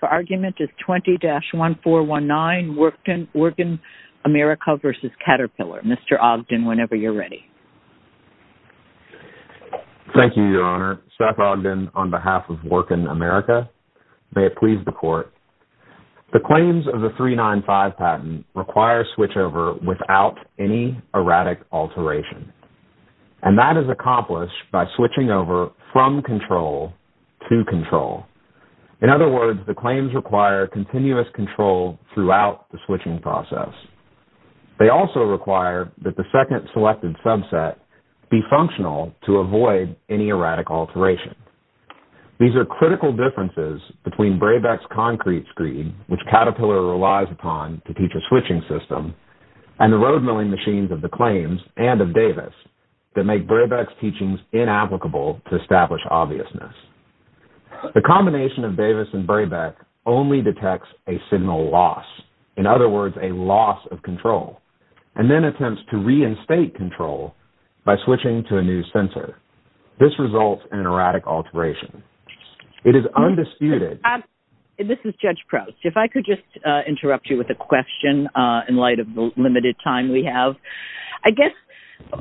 The argument is 20-1419 Wirtgen America v. Caterpillar. Mr. Ogden, whenever you're ready. Thank you, Your Honor. Seth Ogden on behalf of Wirtgen America. May it please the Court. The claims of the 395 patent require switchover without any erratic alteration. And that is accomplished by switching over from control to control. In other words, the claims require continuous control throughout the switching process. They also require that the second selected subset be functional to avoid any erratic alteration. These are critical differences between Brabeck's concrete screed, which Caterpillar relies upon to teach a switching system, and the roadmilling machines of the claims and of Davis that make Brabeck's teachings inapplicable to establish obviousness. The combination of Davis and Brabeck only detects a signal loss. In other words, a loss of control. And then attempts to reinstate control by switching to a new sensor. This results in erratic alteration. It is undisputed. This is Judge Proust. If I could just interrupt you with a question in light of the limited time we have. I guess,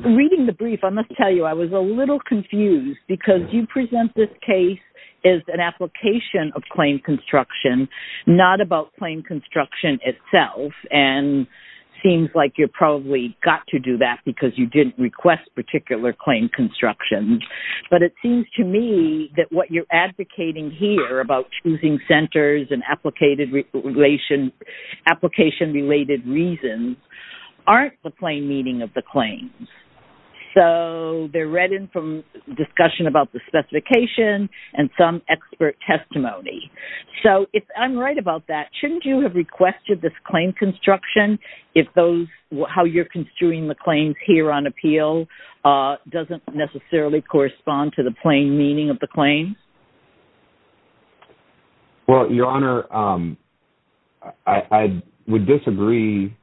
reading the brief, I must tell you I was a little confused because you present this case as an application of claim construction, not about claim construction itself. And it seems like you probably got to do that because you didn't request particular claim construction. But it seems to me that what you're advocating here about choosing centers and application-related reasons aren't the plain meaning of the claims. So, they're read in from discussion about the specification and some expert testimony. So, if I'm right about that, shouldn't you have requested this claim construction if those, how you're construing the claims here on appeal doesn't necessarily correspond to the plain meaning of the claims? Well, Your Honor, I would disagree.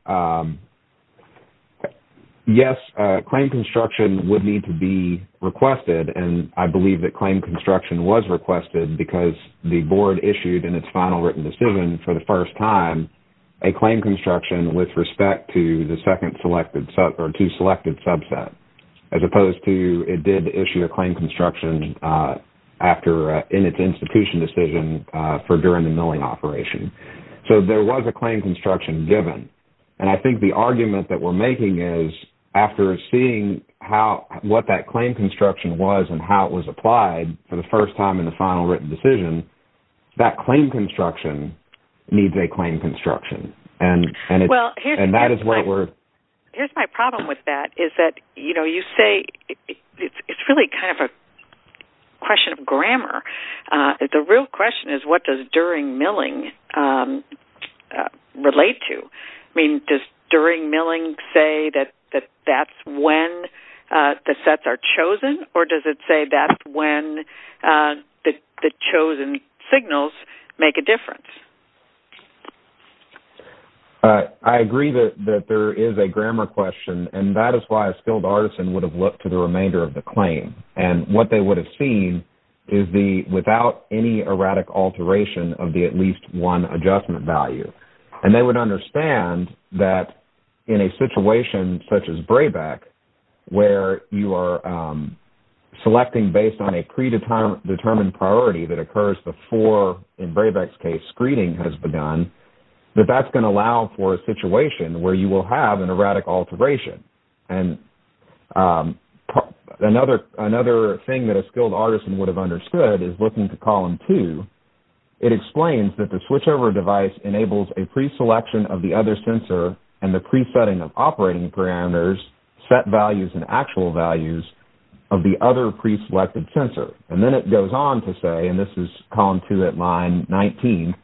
Yes, claim construction would need to be requested. And I believe that claim construction was requested because the Board issued in its final written decision for the first time a claim construction with respect to the second selected, or two selected subset, as opposed to it did issue a claim construction after, in its institution decision for during the milling operation. So, there was a claim construction given. And I think the argument that we're making is after seeing how, what that claim construction was and how it was applied for the first time in the final written decision, that claim construction needs a claim construction. And that is where we're... Well, here's my problem with that is that, you know, you say it's really kind of a question of grammar. The real question is, what does during milling relate to? I mean, does during milling say that that's when the sets are chosen? Or does it say that's when the chosen signals make a difference? I agree that there is a grammar question. And that is why a skilled artisan would have looked to the remainder of the claim. And what they would have seen is the, without any erratic alteration of the at least one adjustment value. And they would understand that in a situation such as Brabec, where you are selecting based on a predetermined priority that occurs before, in Brabec's case, screening has begun, that that's going to allow for a situation where you will have an erratic alteration. And another thing that a skilled artisan would have understood is looking to column two. It explains that the switchover device enables a preselection of the other sensor and the presetting of operating parameters, set values and actual values of the other preselected sensor. And then it goes on to say, and this is column two at line 19,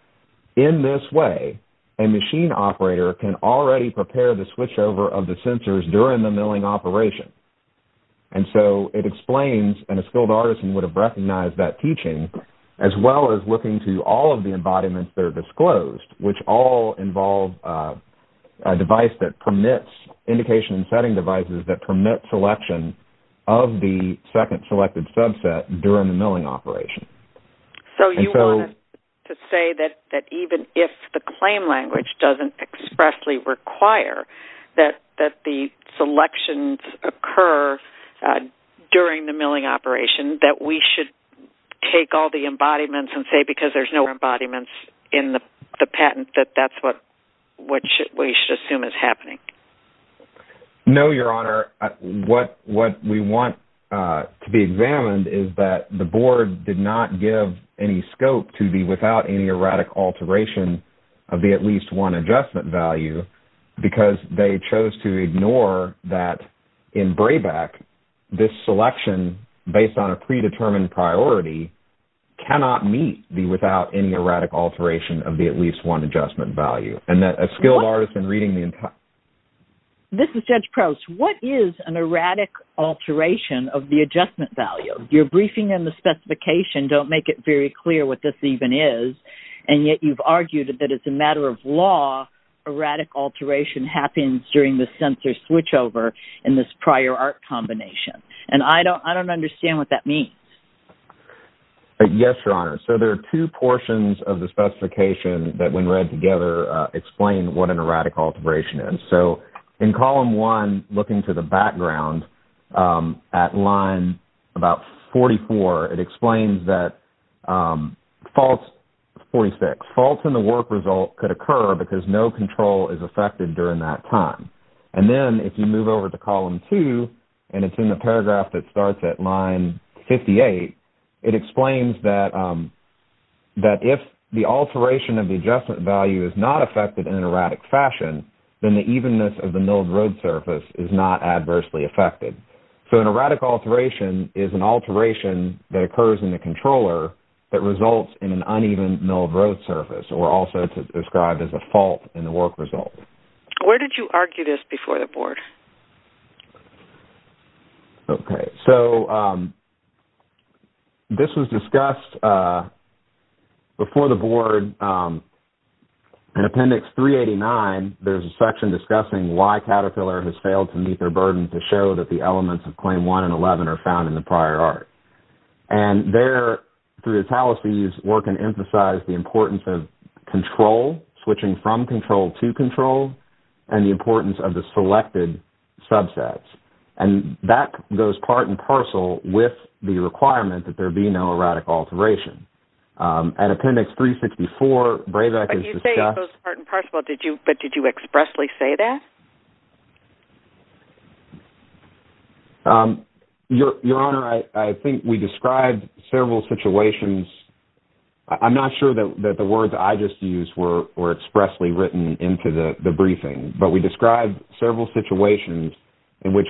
in this way, a machine operator can already prepare the switchover of the sensors during the milling operation. And so it explains, and a skilled artisan would have recognized that teaching, as well as looking to all of the embodiments that are disclosed, which all involve a device that permits, indication and setting devices that permit selection of the second selected subset during the milling operation. So you want to say that even if the claim language doesn't expressly require that the selections occur during the milling operation, that we should take all the embodiments and say, because there's no embodiments in the patent, that that's what we should assume is happening? No, Your Honor. What we want to be examined is that the board did not give any scope to the without any erratic alteration of the at least one adjustment value, because they chose to ignore that in BRABAC this selection, based on a predetermined priority, cannot meet the without any erratic alteration of the at least one adjustment value, and that a skilled artisan reading the entire... This is Judge Prowse. What is an erratic alteration of the adjustment value? Your briefing in the specification don't make it very clear what this even is, and yet you've argued that it's a matter of law, erratic alteration happens during the sensor switchover in this prior art combination. And I don't understand what that means. Yes, Your Honor. So there are two portions of the specification that, when read together, explain what an erratic alteration is. So in column one, looking to the background, at line about 44, it explains that faults in the work result could occur because no control is affected during that time. And then if you move over to column two, and it's in the paragraph that starts at line 58, it explains that if the alteration of the adjustment value is not affected in an unevenness of the milled road surface is not adversely affected. So an erratic alteration is an alteration that occurs in the controller that results in an uneven milled road surface, or also described as a fault in the work result. Where did you argue this before the Board? Okay. So this was discussed before the Board in Appendix 389. There's a section discussing why Caterpillar has failed to meet their burden to show that the elements of Claim 1 and 11 are found in the prior art. And there, through the talisees, work can emphasize the importance of control, switching from control to control, and the importance of the selected subsets. And that goes part and parcel with the requirement that there be no erratic alteration. And Appendix 364, BRAVEC, is discussed... But you say it goes part and parcel, but did you expressly say that? Your Honor, I think we described several situations. I'm not sure that the words I just used were expressly written into the briefing, but we described a situation in which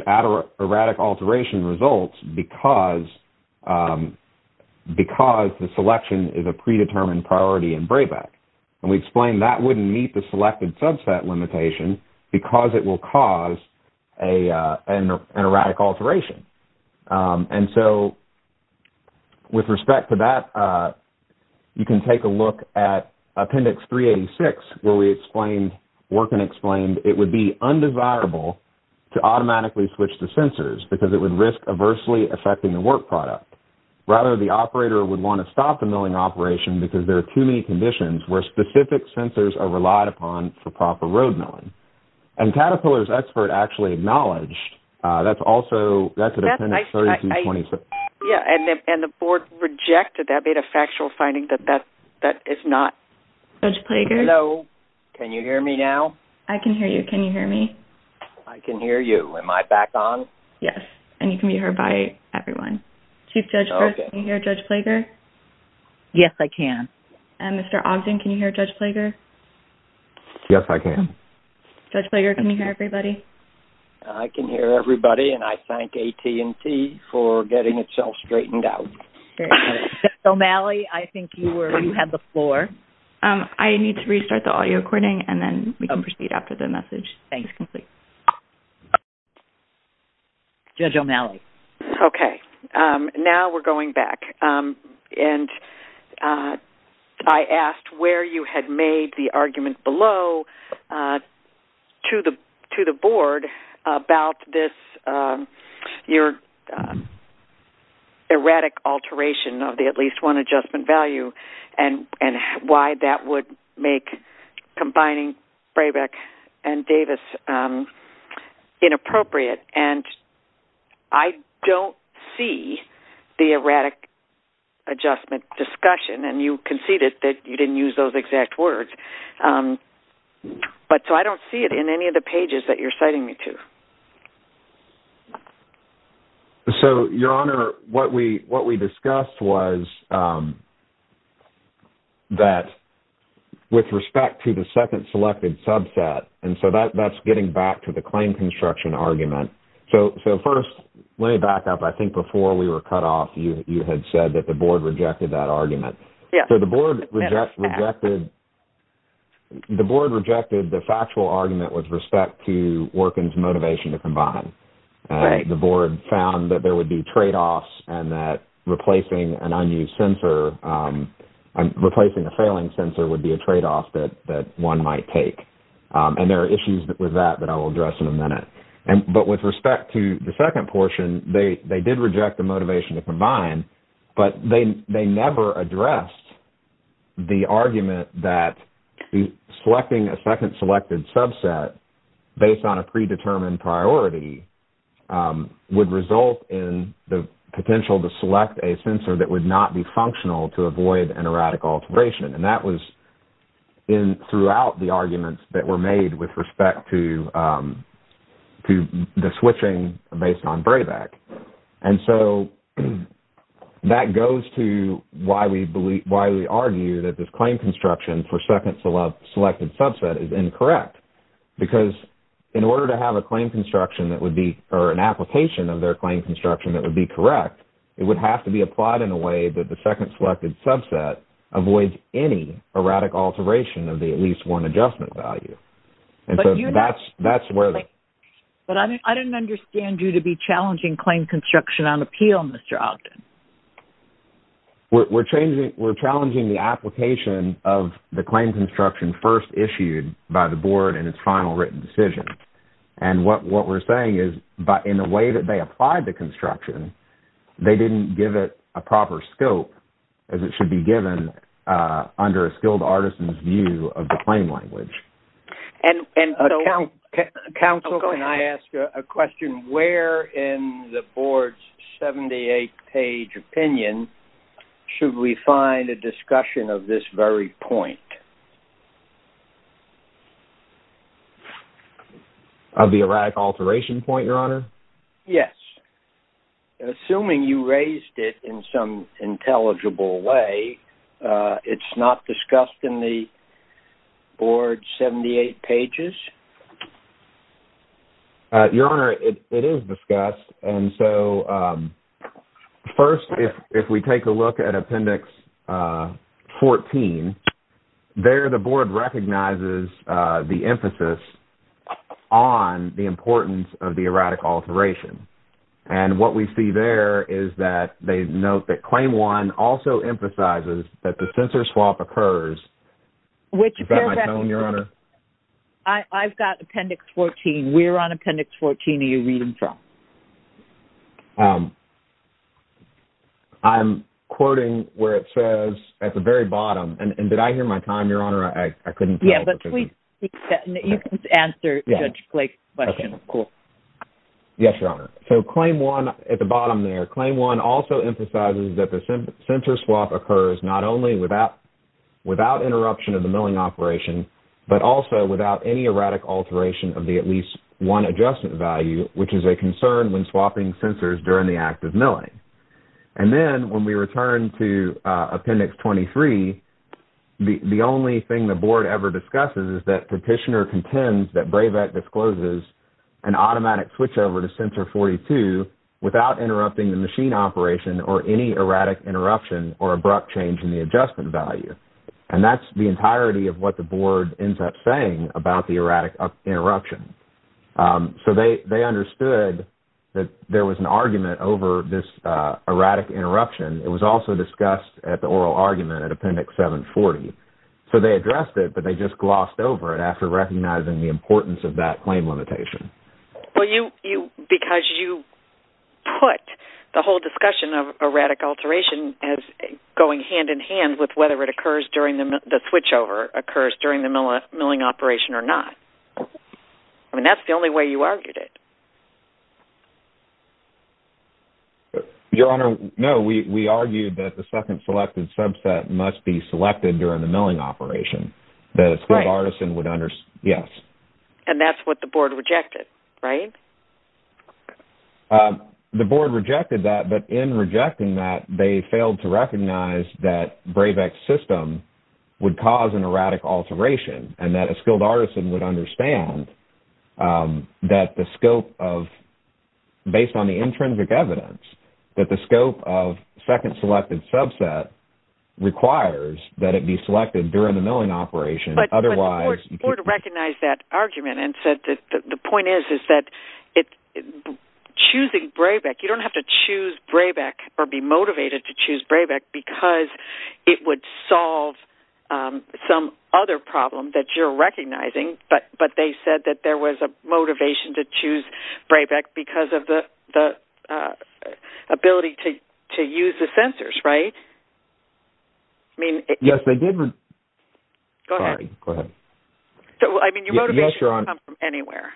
erratic alteration results because the selection is a predetermined priority in BRAVEC. And we explained that wouldn't meet the selected subset limitation because it will cause an erratic alteration. And so, with respect to that, you can take a look at Appendix 386, where we explained, and explained, it would be undesirable to automatically switch the sensors because it would risk adversely affecting the work product. Rather, the operator would want to stop the milling operation because there are too many conditions where specific sensors are relied upon for proper road milling. And Caterpillar's expert actually acknowledged that's also, that's an Appendix 3226. Yeah, and the board rejected that, made a factual finding that that is not... Judge Plater? Hello? Can you hear me now? I can hear you. Can you hear me? I can hear you. Am I back on? Yes. And you can be heard by everyone. Okay. Chief Judge Brist, can you hear Judge Plager? Yes, I can. And Mr. Ogden, can you hear Judge Plager? Yes, I can. Judge Plager, can you hear everybody? I can hear everybody. And I thank AT&T for getting itself straightened out. Okay. Thank you. Thank you. Thank you. Thank you. Thank you. Thank you. Thank you. Thank you. Thank you. Thank you. Okay. Thank you. Thank you. Thank you. Judge O'Malley? Okay. Now we're going back. And I asked where you had made the argument below to the board about this... erratic alteration of the at least one adjustment value and why that would make combining Brabeck and Davis inappropriate. And I don't see the erratic adjustment discussion. And you conceded that you didn't use those exact words. But so I don't see it in any of the pages that you're citing me to. So Your Honor, what we discussed was that with respect to the second selected subset, and so that's getting back to the claim construction argument. So first, let me back up. I think before we were cut off, you had said that the board rejected that argument. Yes. So the board rejected the factual argument with respect to Orkin's motivation to combine. The board found that there would be tradeoffs and that replacing an unused sensor, replacing a failing sensor would be a tradeoff that one might take. And there are issues with that that I will address in a minute. But with respect to the second portion, they did reject the motivation to combine, but they never addressed the argument that selecting a second selected subset based on a predetermined priority would result in the potential to select a sensor that would not be functional to avoid an erratic alteration. And that was throughout the arguments that were made with respect to the switching based on Brabeck. And so that goes to why we argue that this claim construction for second selected subset is incorrect. Because in order to have a claim construction that would be, or an application of their claim construction that would be correct, it would have to be applied in a way that the second selected subset avoids any erratic alteration of the at least one adjustment value. And so that's where the... Claim construction on appeal, Mr. Ogden. We're changing, we're challenging the application of the claim construction first issued by the board in its final written decision. And what we're saying is, but in a way that they applied the construction, they didn't give it a proper scope as it should be given under a skilled artisan's view of the claim language. And so... Counsel, can I ask a question? Where in the board's 78 page opinion should we find a discussion of this very point? Of the erratic alteration point, Your Honor? Yes. Assuming you raised it in some intelligible way, it's not discussed in the board's 78 pages? Your Honor, it is discussed. And so first, if we take a look at Appendix 14, there the board recognizes the emphasis on the importance of the erratic alteration. And what we see there is that they note that Claim 1 also emphasizes that the censor swap occurs... Is that my tone, Your Honor? I've got Appendix 14. We're on Appendix 14. Are you reading from? I'm quoting where it says at the very bottom, and did I hear my time, Your Honor? I couldn't... Yeah. You can answer Judge Blake's question. Okay. Cool. Yes, Your Honor. So Claim 1, at the bottom there, Claim 1 also emphasizes that the censor swap occurs not only without interruption of the milling operation, but also without any erratic alteration of the at least one adjustment value, which is a concern when swapping censors during the act of milling. And then when we return to Appendix 23, the only thing the board ever discusses is that Petitioner contends that BRAVE Act discloses an automatic switchover to Censor 42 without interrupting the machine operation or any erratic interruption or abrupt change in the adjustment value. And that's the entirety of what the board ends up saying about the erratic interruption. So they understood that there was an argument over this erratic interruption. It was also discussed at the oral argument at Appendix 740. So they addressed it, but they just glossed over it after recognizing the importance of that claim limitation. Well, because you put the whole discussion of erratic alteration as going hand-in-hand with whether it occurs during the switchover, occurs during the milling operation or not. I mean, that's the only way you argued it. Your Honor, no, we argued that the second selected subset must be selected during the milling operation. Right. That a skilled artisan would understand, yes. And that's what the board rejected, right? The board rejected that, but in rejecting that, they failed to recognize that Brabeck's system would cause an erratic alteration and that a skilled artisan would understand that the scope of, based on the intrinsic evidence, that the scope of second selected subset requires that it be selected during the milling operation, otherwise you could... Choosing Brabeck, you don't have to choose Brabeck or be motivated to choose Brabeck because it would solve some other problem that you're recognizing, but they said that there was a motivation to choose Brabeck because of the ability to use the sensors, right? I mean... Yes, they did... Go ahead. Sorry. Go ahead. I mean, your motivation... Yes, Your Honor. ...could come from anywhere.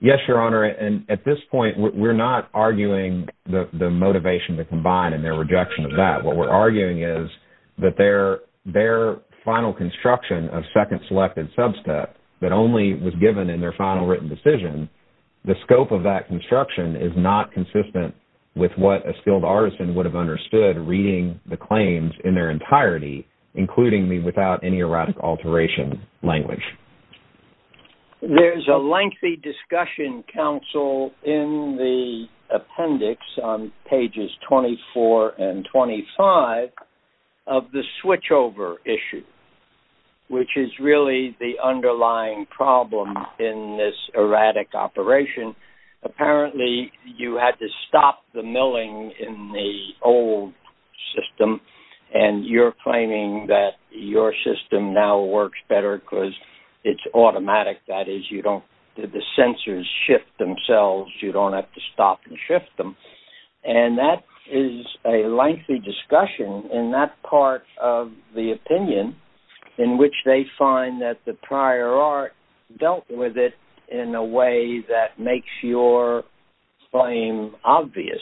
Yes, Your Honor. And at this point, we're not arguing the motivation to combine and their rejection of that. What we're arguing is that their final construction of second selected subset that only was given in their final written decision, the scope of that construction is not consistent with what a skilled artisan would have understood reading the claims in their entirety, including the without any erratic alteration language. There's a lengthy discussion council in the appendix on pages 24 and 25 of the switchover issue, which is really the underlying problem in this erratic operation. Apparently, you had to stop the milling in the old system and you're claiming that your it's automatic. That is, you don't... Did the sensors shift themselves? You don't have to stop and shift them. And that is a lengthy discussion in that part of the opinion in which they find that the prior art dealt with it in a way that makes your claim obvious.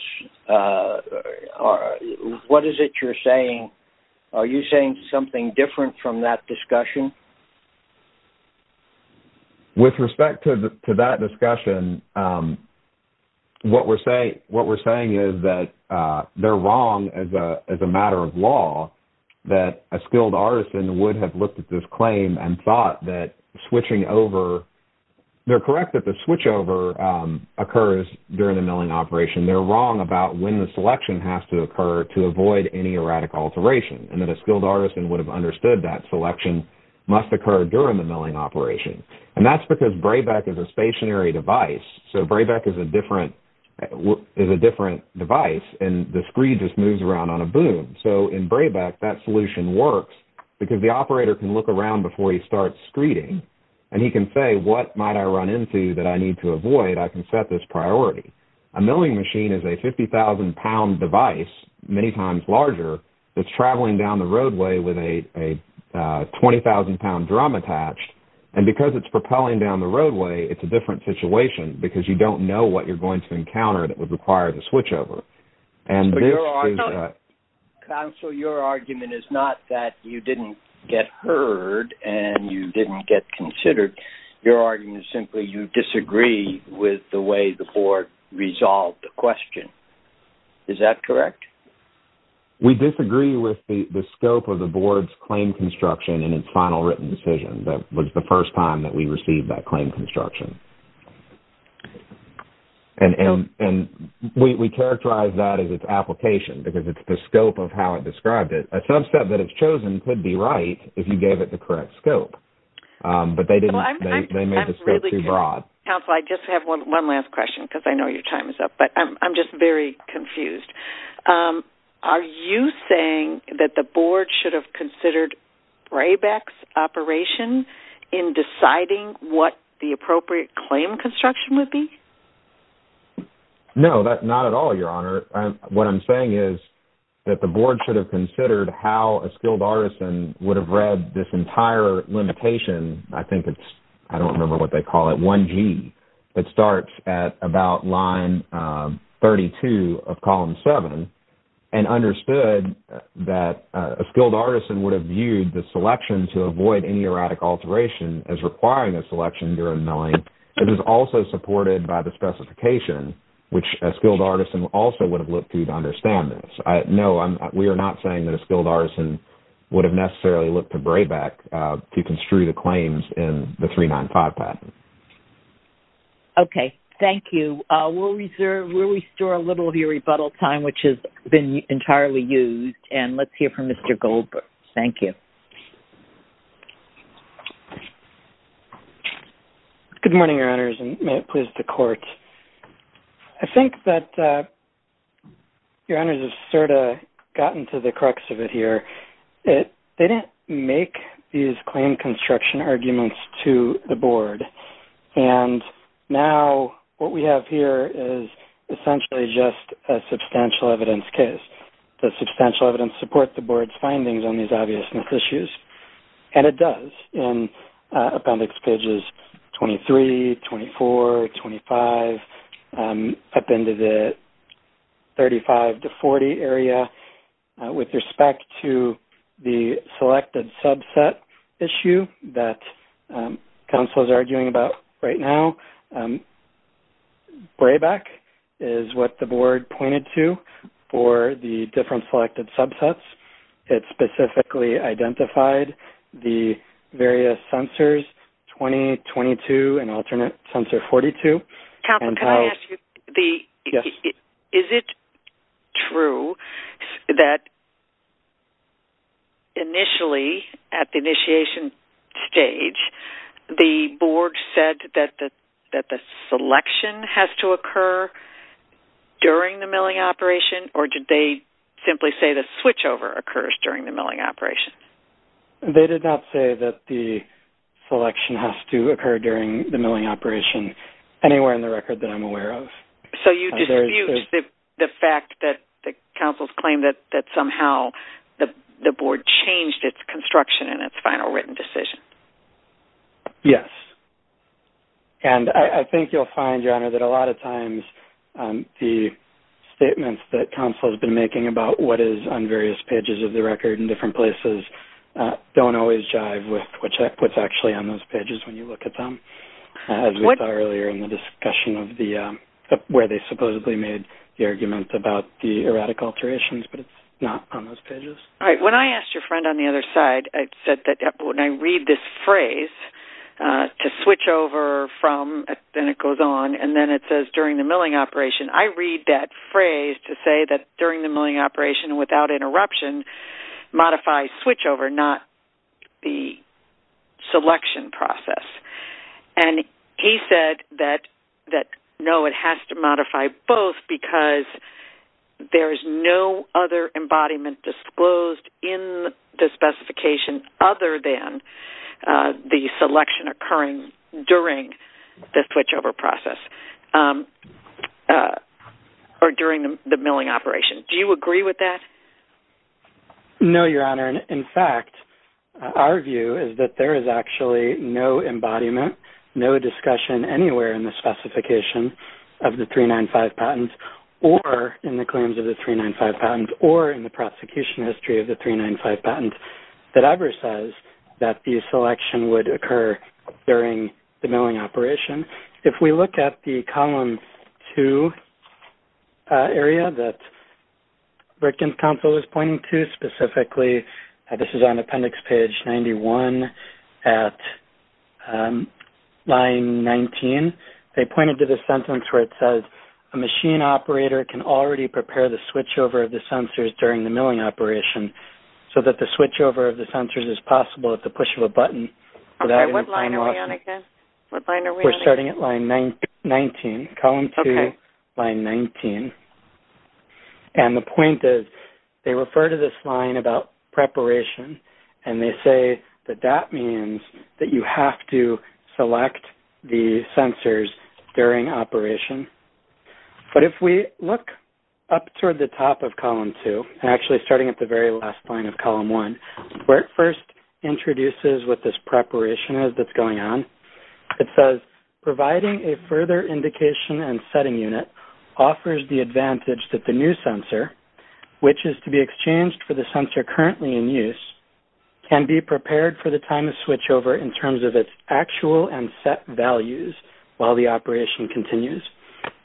What is it you're saying? Are you saying something different from that discussion? With respect to that discussion, what we're saying is that they're wrong as a matter of law that a skilled artisan would have looked at this claim and thought that switching over... They're correct that the switchover occurs during the milling operation. And they're wrong about when the selection has to occur to avoid any erratic alteration and that a skilled artisan would have understood that selection must occur during the milling operation. And that's because Braybeck is a stationary device. So Braybeck is a different device and the screen just moves around on a boom. So in Braybeck, that solution works because the operator can look around before he starts screening and he can say, what might I run into that I need to avoid? I can set this priority. A milling machine is a 50,000-pound device, many times larger, that's traveling down the roadway with a 20,000-pound drum attached. And because it's propelling down the roadway, it's a different situation because you don't know what you're going to encounter that would require the switchover. And there are... Counsel, your argument is not that you didn't get heard and you didn't get considered. Your argument is simply you disagree with the way the board resolved the question. Is that correct? We disagree with the scope of the board's claim construction and its final written decision. That was the first time that we received that claim construction. And we characterize that as its application because it's the scope of how it described it. A subset that it's chosen could be right if you gave it the correct scope. But they didn't... Well, I'm... They made the scope too broad. Counsel, I just have one last question because I know your time is up. But I'm just very confused. Are you saying that the board should have considered Braybeck's operation in deciding what the appropriate claim construction would be? No, not at all, Your Honor. What I'm saying is that the board should have considered how a skilled artisan would have read this entire limitation. I think it's... I don't remember what they call it, 1G. It starts at about line 32 of column seven and understood that a skilled artisan would have viewed the selection to avoid any erratic alteration as requiring a selection during milling. It is also supported by the specification, which a skilled artisan also would have looked to understand this. So, no, we are not saying that a skilled artisan would have necessarily looked to Braybeck to construe the claims in the 395 patent. Okay. Thank you. We'll reserve... We'll restore a little of your rebuttal time, which has been entirely used. And let's hear from Mr. Goldberg. Good morning, Your Honors, and may it please the Court. I think that Your Honors has sort of gotten to the crux of it here. They didn't make these claim construction arguments to the board. And now what we have here is essentially just a substantial evidence case. Does substantial evidence support the board's findings on these obvious mis-issues? And it does in Appendix Pages 23, 24, 25, up into the 35 to 40 area. With respect to the selected subset issue that counsel is arguing about right now, Braybeck is what the board pointed to for the different selected subsets. It specifically identified the various censors, 20, 22, and alternate censor 42. Counselor, can I ask you, is it true that initially at the initiation stage, the board said that the selection has to occur during the milling operation, or did they simply say the switchover occurs during the milling operation? They did not say that the selection has to occur during the milling operation, anywhere in the record that I'm aware of. So you dispute the fact that counsel's claim that somehow the board changed its construction in its final written decision? Yes. And I think you'll find, Your Honor, that a lot of times the statements that counsel has been making about what is on various pages of the record in different places don't always jive with what's actually on those pages when you look at them, as we saw earlier in the discussion of where they supposedly made the argument about the erratic alterations, but it's not on those pages. All right. When I asked your friend on the other side, I said that when I read this phrase, to switch over from, then it goes on, and then it says during the milling operation, I read that to say that during the milling operation, without interruption, modify switchover, not the selection process. And he said that, no, it has to modify both because there is no other embodiment disclosed in the specification other than the selection occurring during the switchover process, or during the milling operation. Do you agree with that? No, Your Honor. In fact, our view is that there is actually no embodiment, no discussion anywhere in the specification of the 395 patent, or in the claims of the 395 patent, or in the prosecution history of the 395 patent that ever says that the selection would occur during the milling operation. If we look at the Column 2 area that Rickens Counsel is pointing to specifically-this is on Appendix Page 91 at Line 19-they pointed to the sentence where it says, a machine operator can already prepare the switchover of the sensors during the milling operation, so that the switchover of the sensors is possible at the push of a button without interruption. Okay. What line are we on again? What line are we on again? We're starting at Line 19. Okay. Column 2, Line 19. And the point is, they refer to this line about preparation, and they say that that means that you have to select the sensors during operation. But if we look up toward the top of Column 2, and actually starting at the very last line of Column 1, where it first introduces what this preparation is that's going on, it says, providing a further indication and setting unit offers the advantage that the new sensor, which is to be exchanged for the sensor currently in use, can be prepared for the time of switchover in terms of its actual and set values while the operation continues.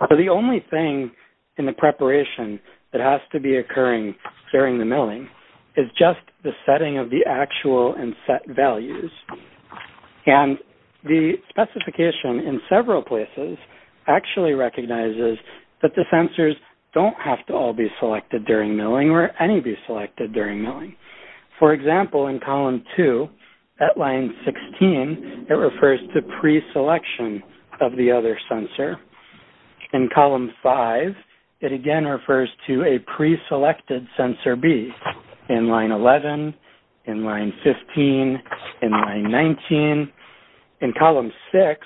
So, the only thing in the preparation that has to be occurring during the milling is just the setting of the actual and set values. And the specification in several places actually recognizes that the sensors don't have to all be selected during milling or any be selected during milling. For example, in Column 2, at Line 16, it refers to pre-selection of the other sensor. In Column 5, it again refers to a pre-selected sensor B in Line 11, in Line 15, in Line 19. In Column 6,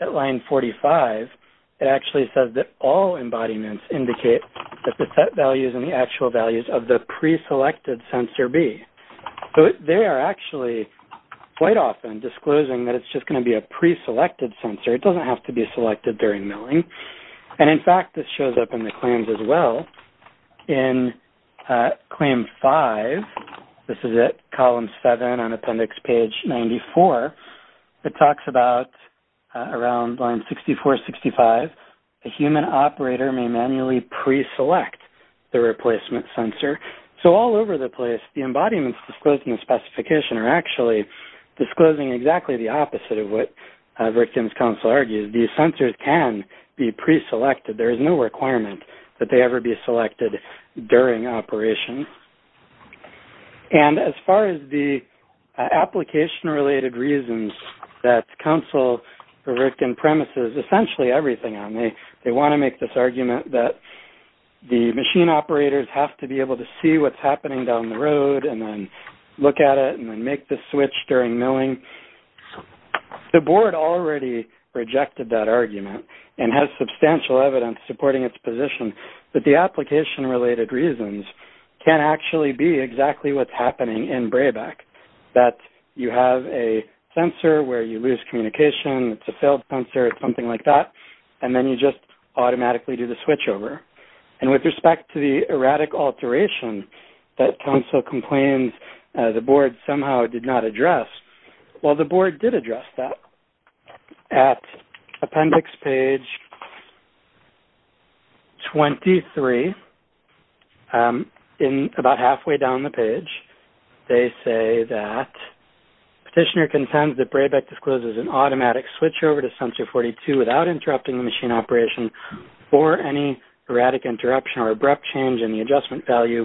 at Line 45, it actually says that all embodiments indicate that the set values of the pre-selected sensor B. So, they are actually quite often disclosing that it's just going to be a pre-selected sensor. It doesn't have to be selected during milling. And in fact, this shows up in the claims as well. In Claim 5, this is at Column 7 on Appendix Page 94, it talks about around Line 64, 65, a human operator may manually pre-select the replacement sensor. So, all over the place, the embodiments disclosed in the specification are actually disclosing exactly the opposite of what a victim's counsel argues. These sensors can be pre-selected. There is no requirement that they ever be selected during operation. And as far as the application-related reasons that counsel or victim premises essentially everything on, they want to make this argument that the machine operators have to be able to see what's happening down the road, and then look at it, and then make the switch during milling. The board already rejected that argument and has substantial evidence supporting its position that the application-related reasons can actually be exactly what's happening in BRABAC, that you have a sensor where you lose communication, it's a failed sensor, it's something like that, and then you just automatically do the switchover. And with respect to the erratic alteration that counsel complains the board somehow did not address, well, the board did address that. At Appendix Page 23, in-about halfway down the page, they say that, Petitioner contends that BRABAC discloses an automatic switchover to Sensor 42 without interrupting the machine operation for any erratic interruption or abrupt change in the adjustment value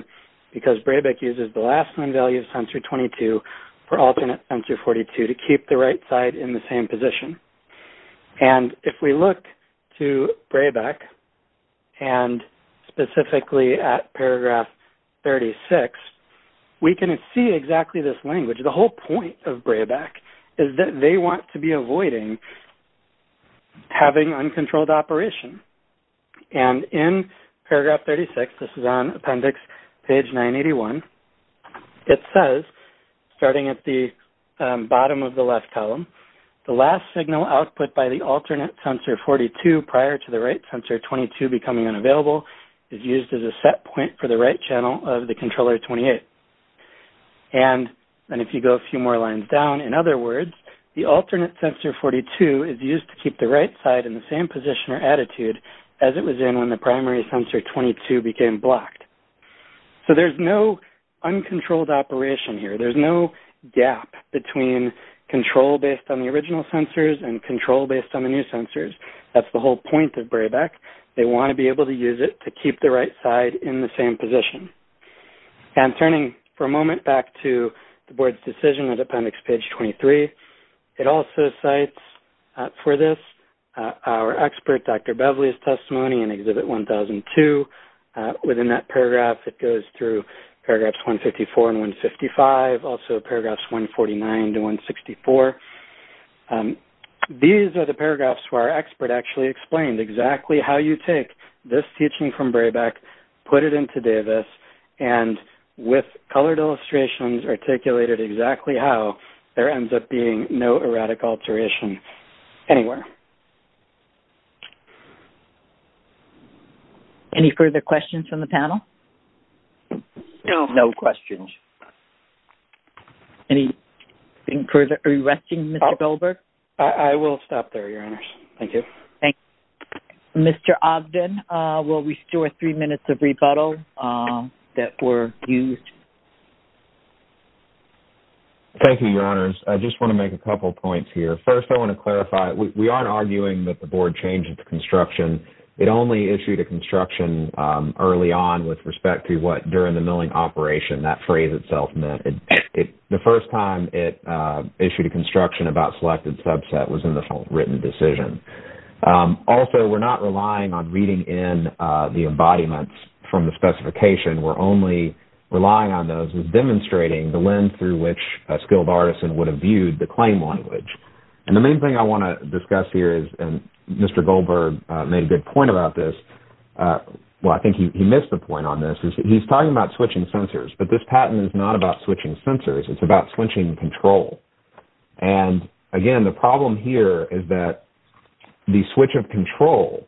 because BRABAC uses the last known value of Sensor 22 for alternate Sensor 42 to keep the right side in the same position. And if we look to BRABAC, and specifically at Paragraph 36, we can see exactly this language. The whole point of BRABAC is that they want to be avoiding having uncontrolled operation. And in Paragraph 36, this is on Appendix Page 981, it says, starting at the bottom of the left column, the last signal output by the alternate Sensor 42 prior to the right Sensor 22 becoming unavailable is used as a set point for the right channel of the Controller 28. And if you go a few more lines down, in other words, the alternate Sensor 42 is used to keep the right side in the same position or attitude as it was in when the primary Sensor 22 became blocked. So there's no uncontrolled operation here. There's no gap between control based on the original sensors and control based on the new sensors. That's the whole point of BRABAC. They want to be able to use it to keep the right side in the same position. And turning for a moment back to the Board's decision on Appendix Page 23, it also cites for this our expert Dr. Bevely's testimony in Exhibit 1002. Within that paragraph, it goes through Paragraphs 154 and 155, also Paragraphs 149 to 164. These are the paragraphs where our expert actually explained exactly how you take this to Davis, and with colored illustrations articulated exactly how, there ends up being no erratic alteration anywhere. Any further questions from the panel? No. No questions. Are you resting, Mr. Goldberg? Thank you. Thank you. Mr. Ogden, will we store three minutes of rebuttal that were used? Thank you, Your Honors. I just want to make a couple points here. First, I want to clarify, we aren't arguing that the Board changed the construction. It only issued a construction early on with respect to what during the milling operation that phrase itself meant. The first time it issued a construction about selected subset was in the written decision. Also, we're not relying on reading in the embodiments from the specification. We're only relying on those as demonstrating the lens through which a skilled artisan would have viewed the claim language. The main thing I want to discuss here is, and Mr. Goldberg made a good point about this, well, I think he missed the point on this, is he's talking about switching sensors, but this patent is not about switching sensors. It's about switching control. And, again, the problem here is that the switch of control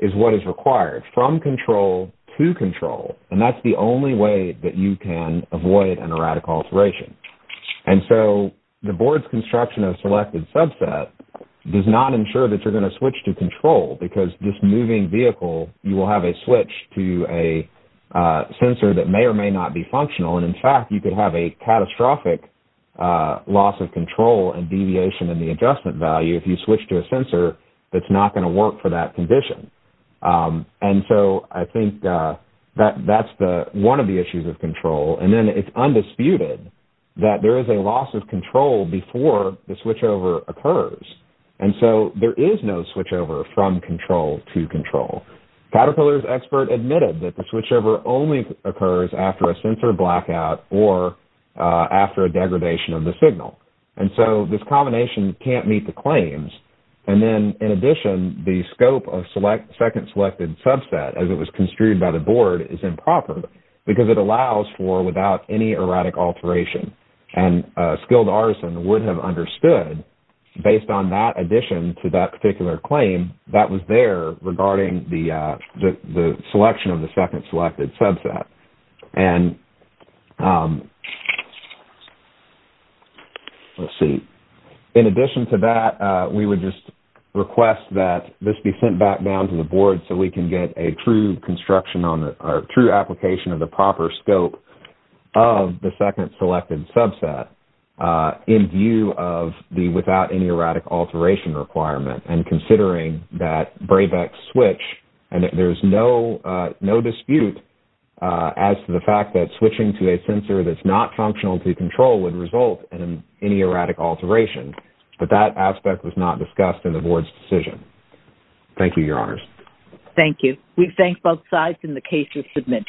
is what is required, from control to control, and that's the only way that you can avoid an erratic alteration. And so the Board's construction of selected subset does not ensure that you're going to switch to control because this moving vehicle, you will have a switch to a sensor that may or may not be functional, and, in fact, you could have a catastrophic loss of control and deviation in the adjustment value if you switch to a sensor that's not going to work for that condition. And so I think that's one of the issues of control. And then it's undisputed that there is a loss of control before the switchover occurs. And so there is no switchover from control to control. Caterpillar's expert admitted that the switchover only occurs after a sensor blackout or after a degradation of the signal. And so this combination can't meet the claims. And then, in addition, the scope of second selected subset, as it was construed by the Board, is improper because it allows for without any erratic alteration, and a skilled artisan would have understood, based on that addition to that particular claim, that was there regarding the selection of the second selected subset. And, let's see, in addition to that, we would just request that this be sent back down to the Board so we can get a true construction or true application of the proper scope of the second selected subset in view of the without any erratic alteration requirement. And considering that Brabeck's switch, and there's no dispute as to the fact that switching to a sensor that's not functional to control would result in any erratic alteration, but that aspect was not discussed in the Board's decision. Thank you, Your Honors. Thank you. We thank both sides in the case you've submitted.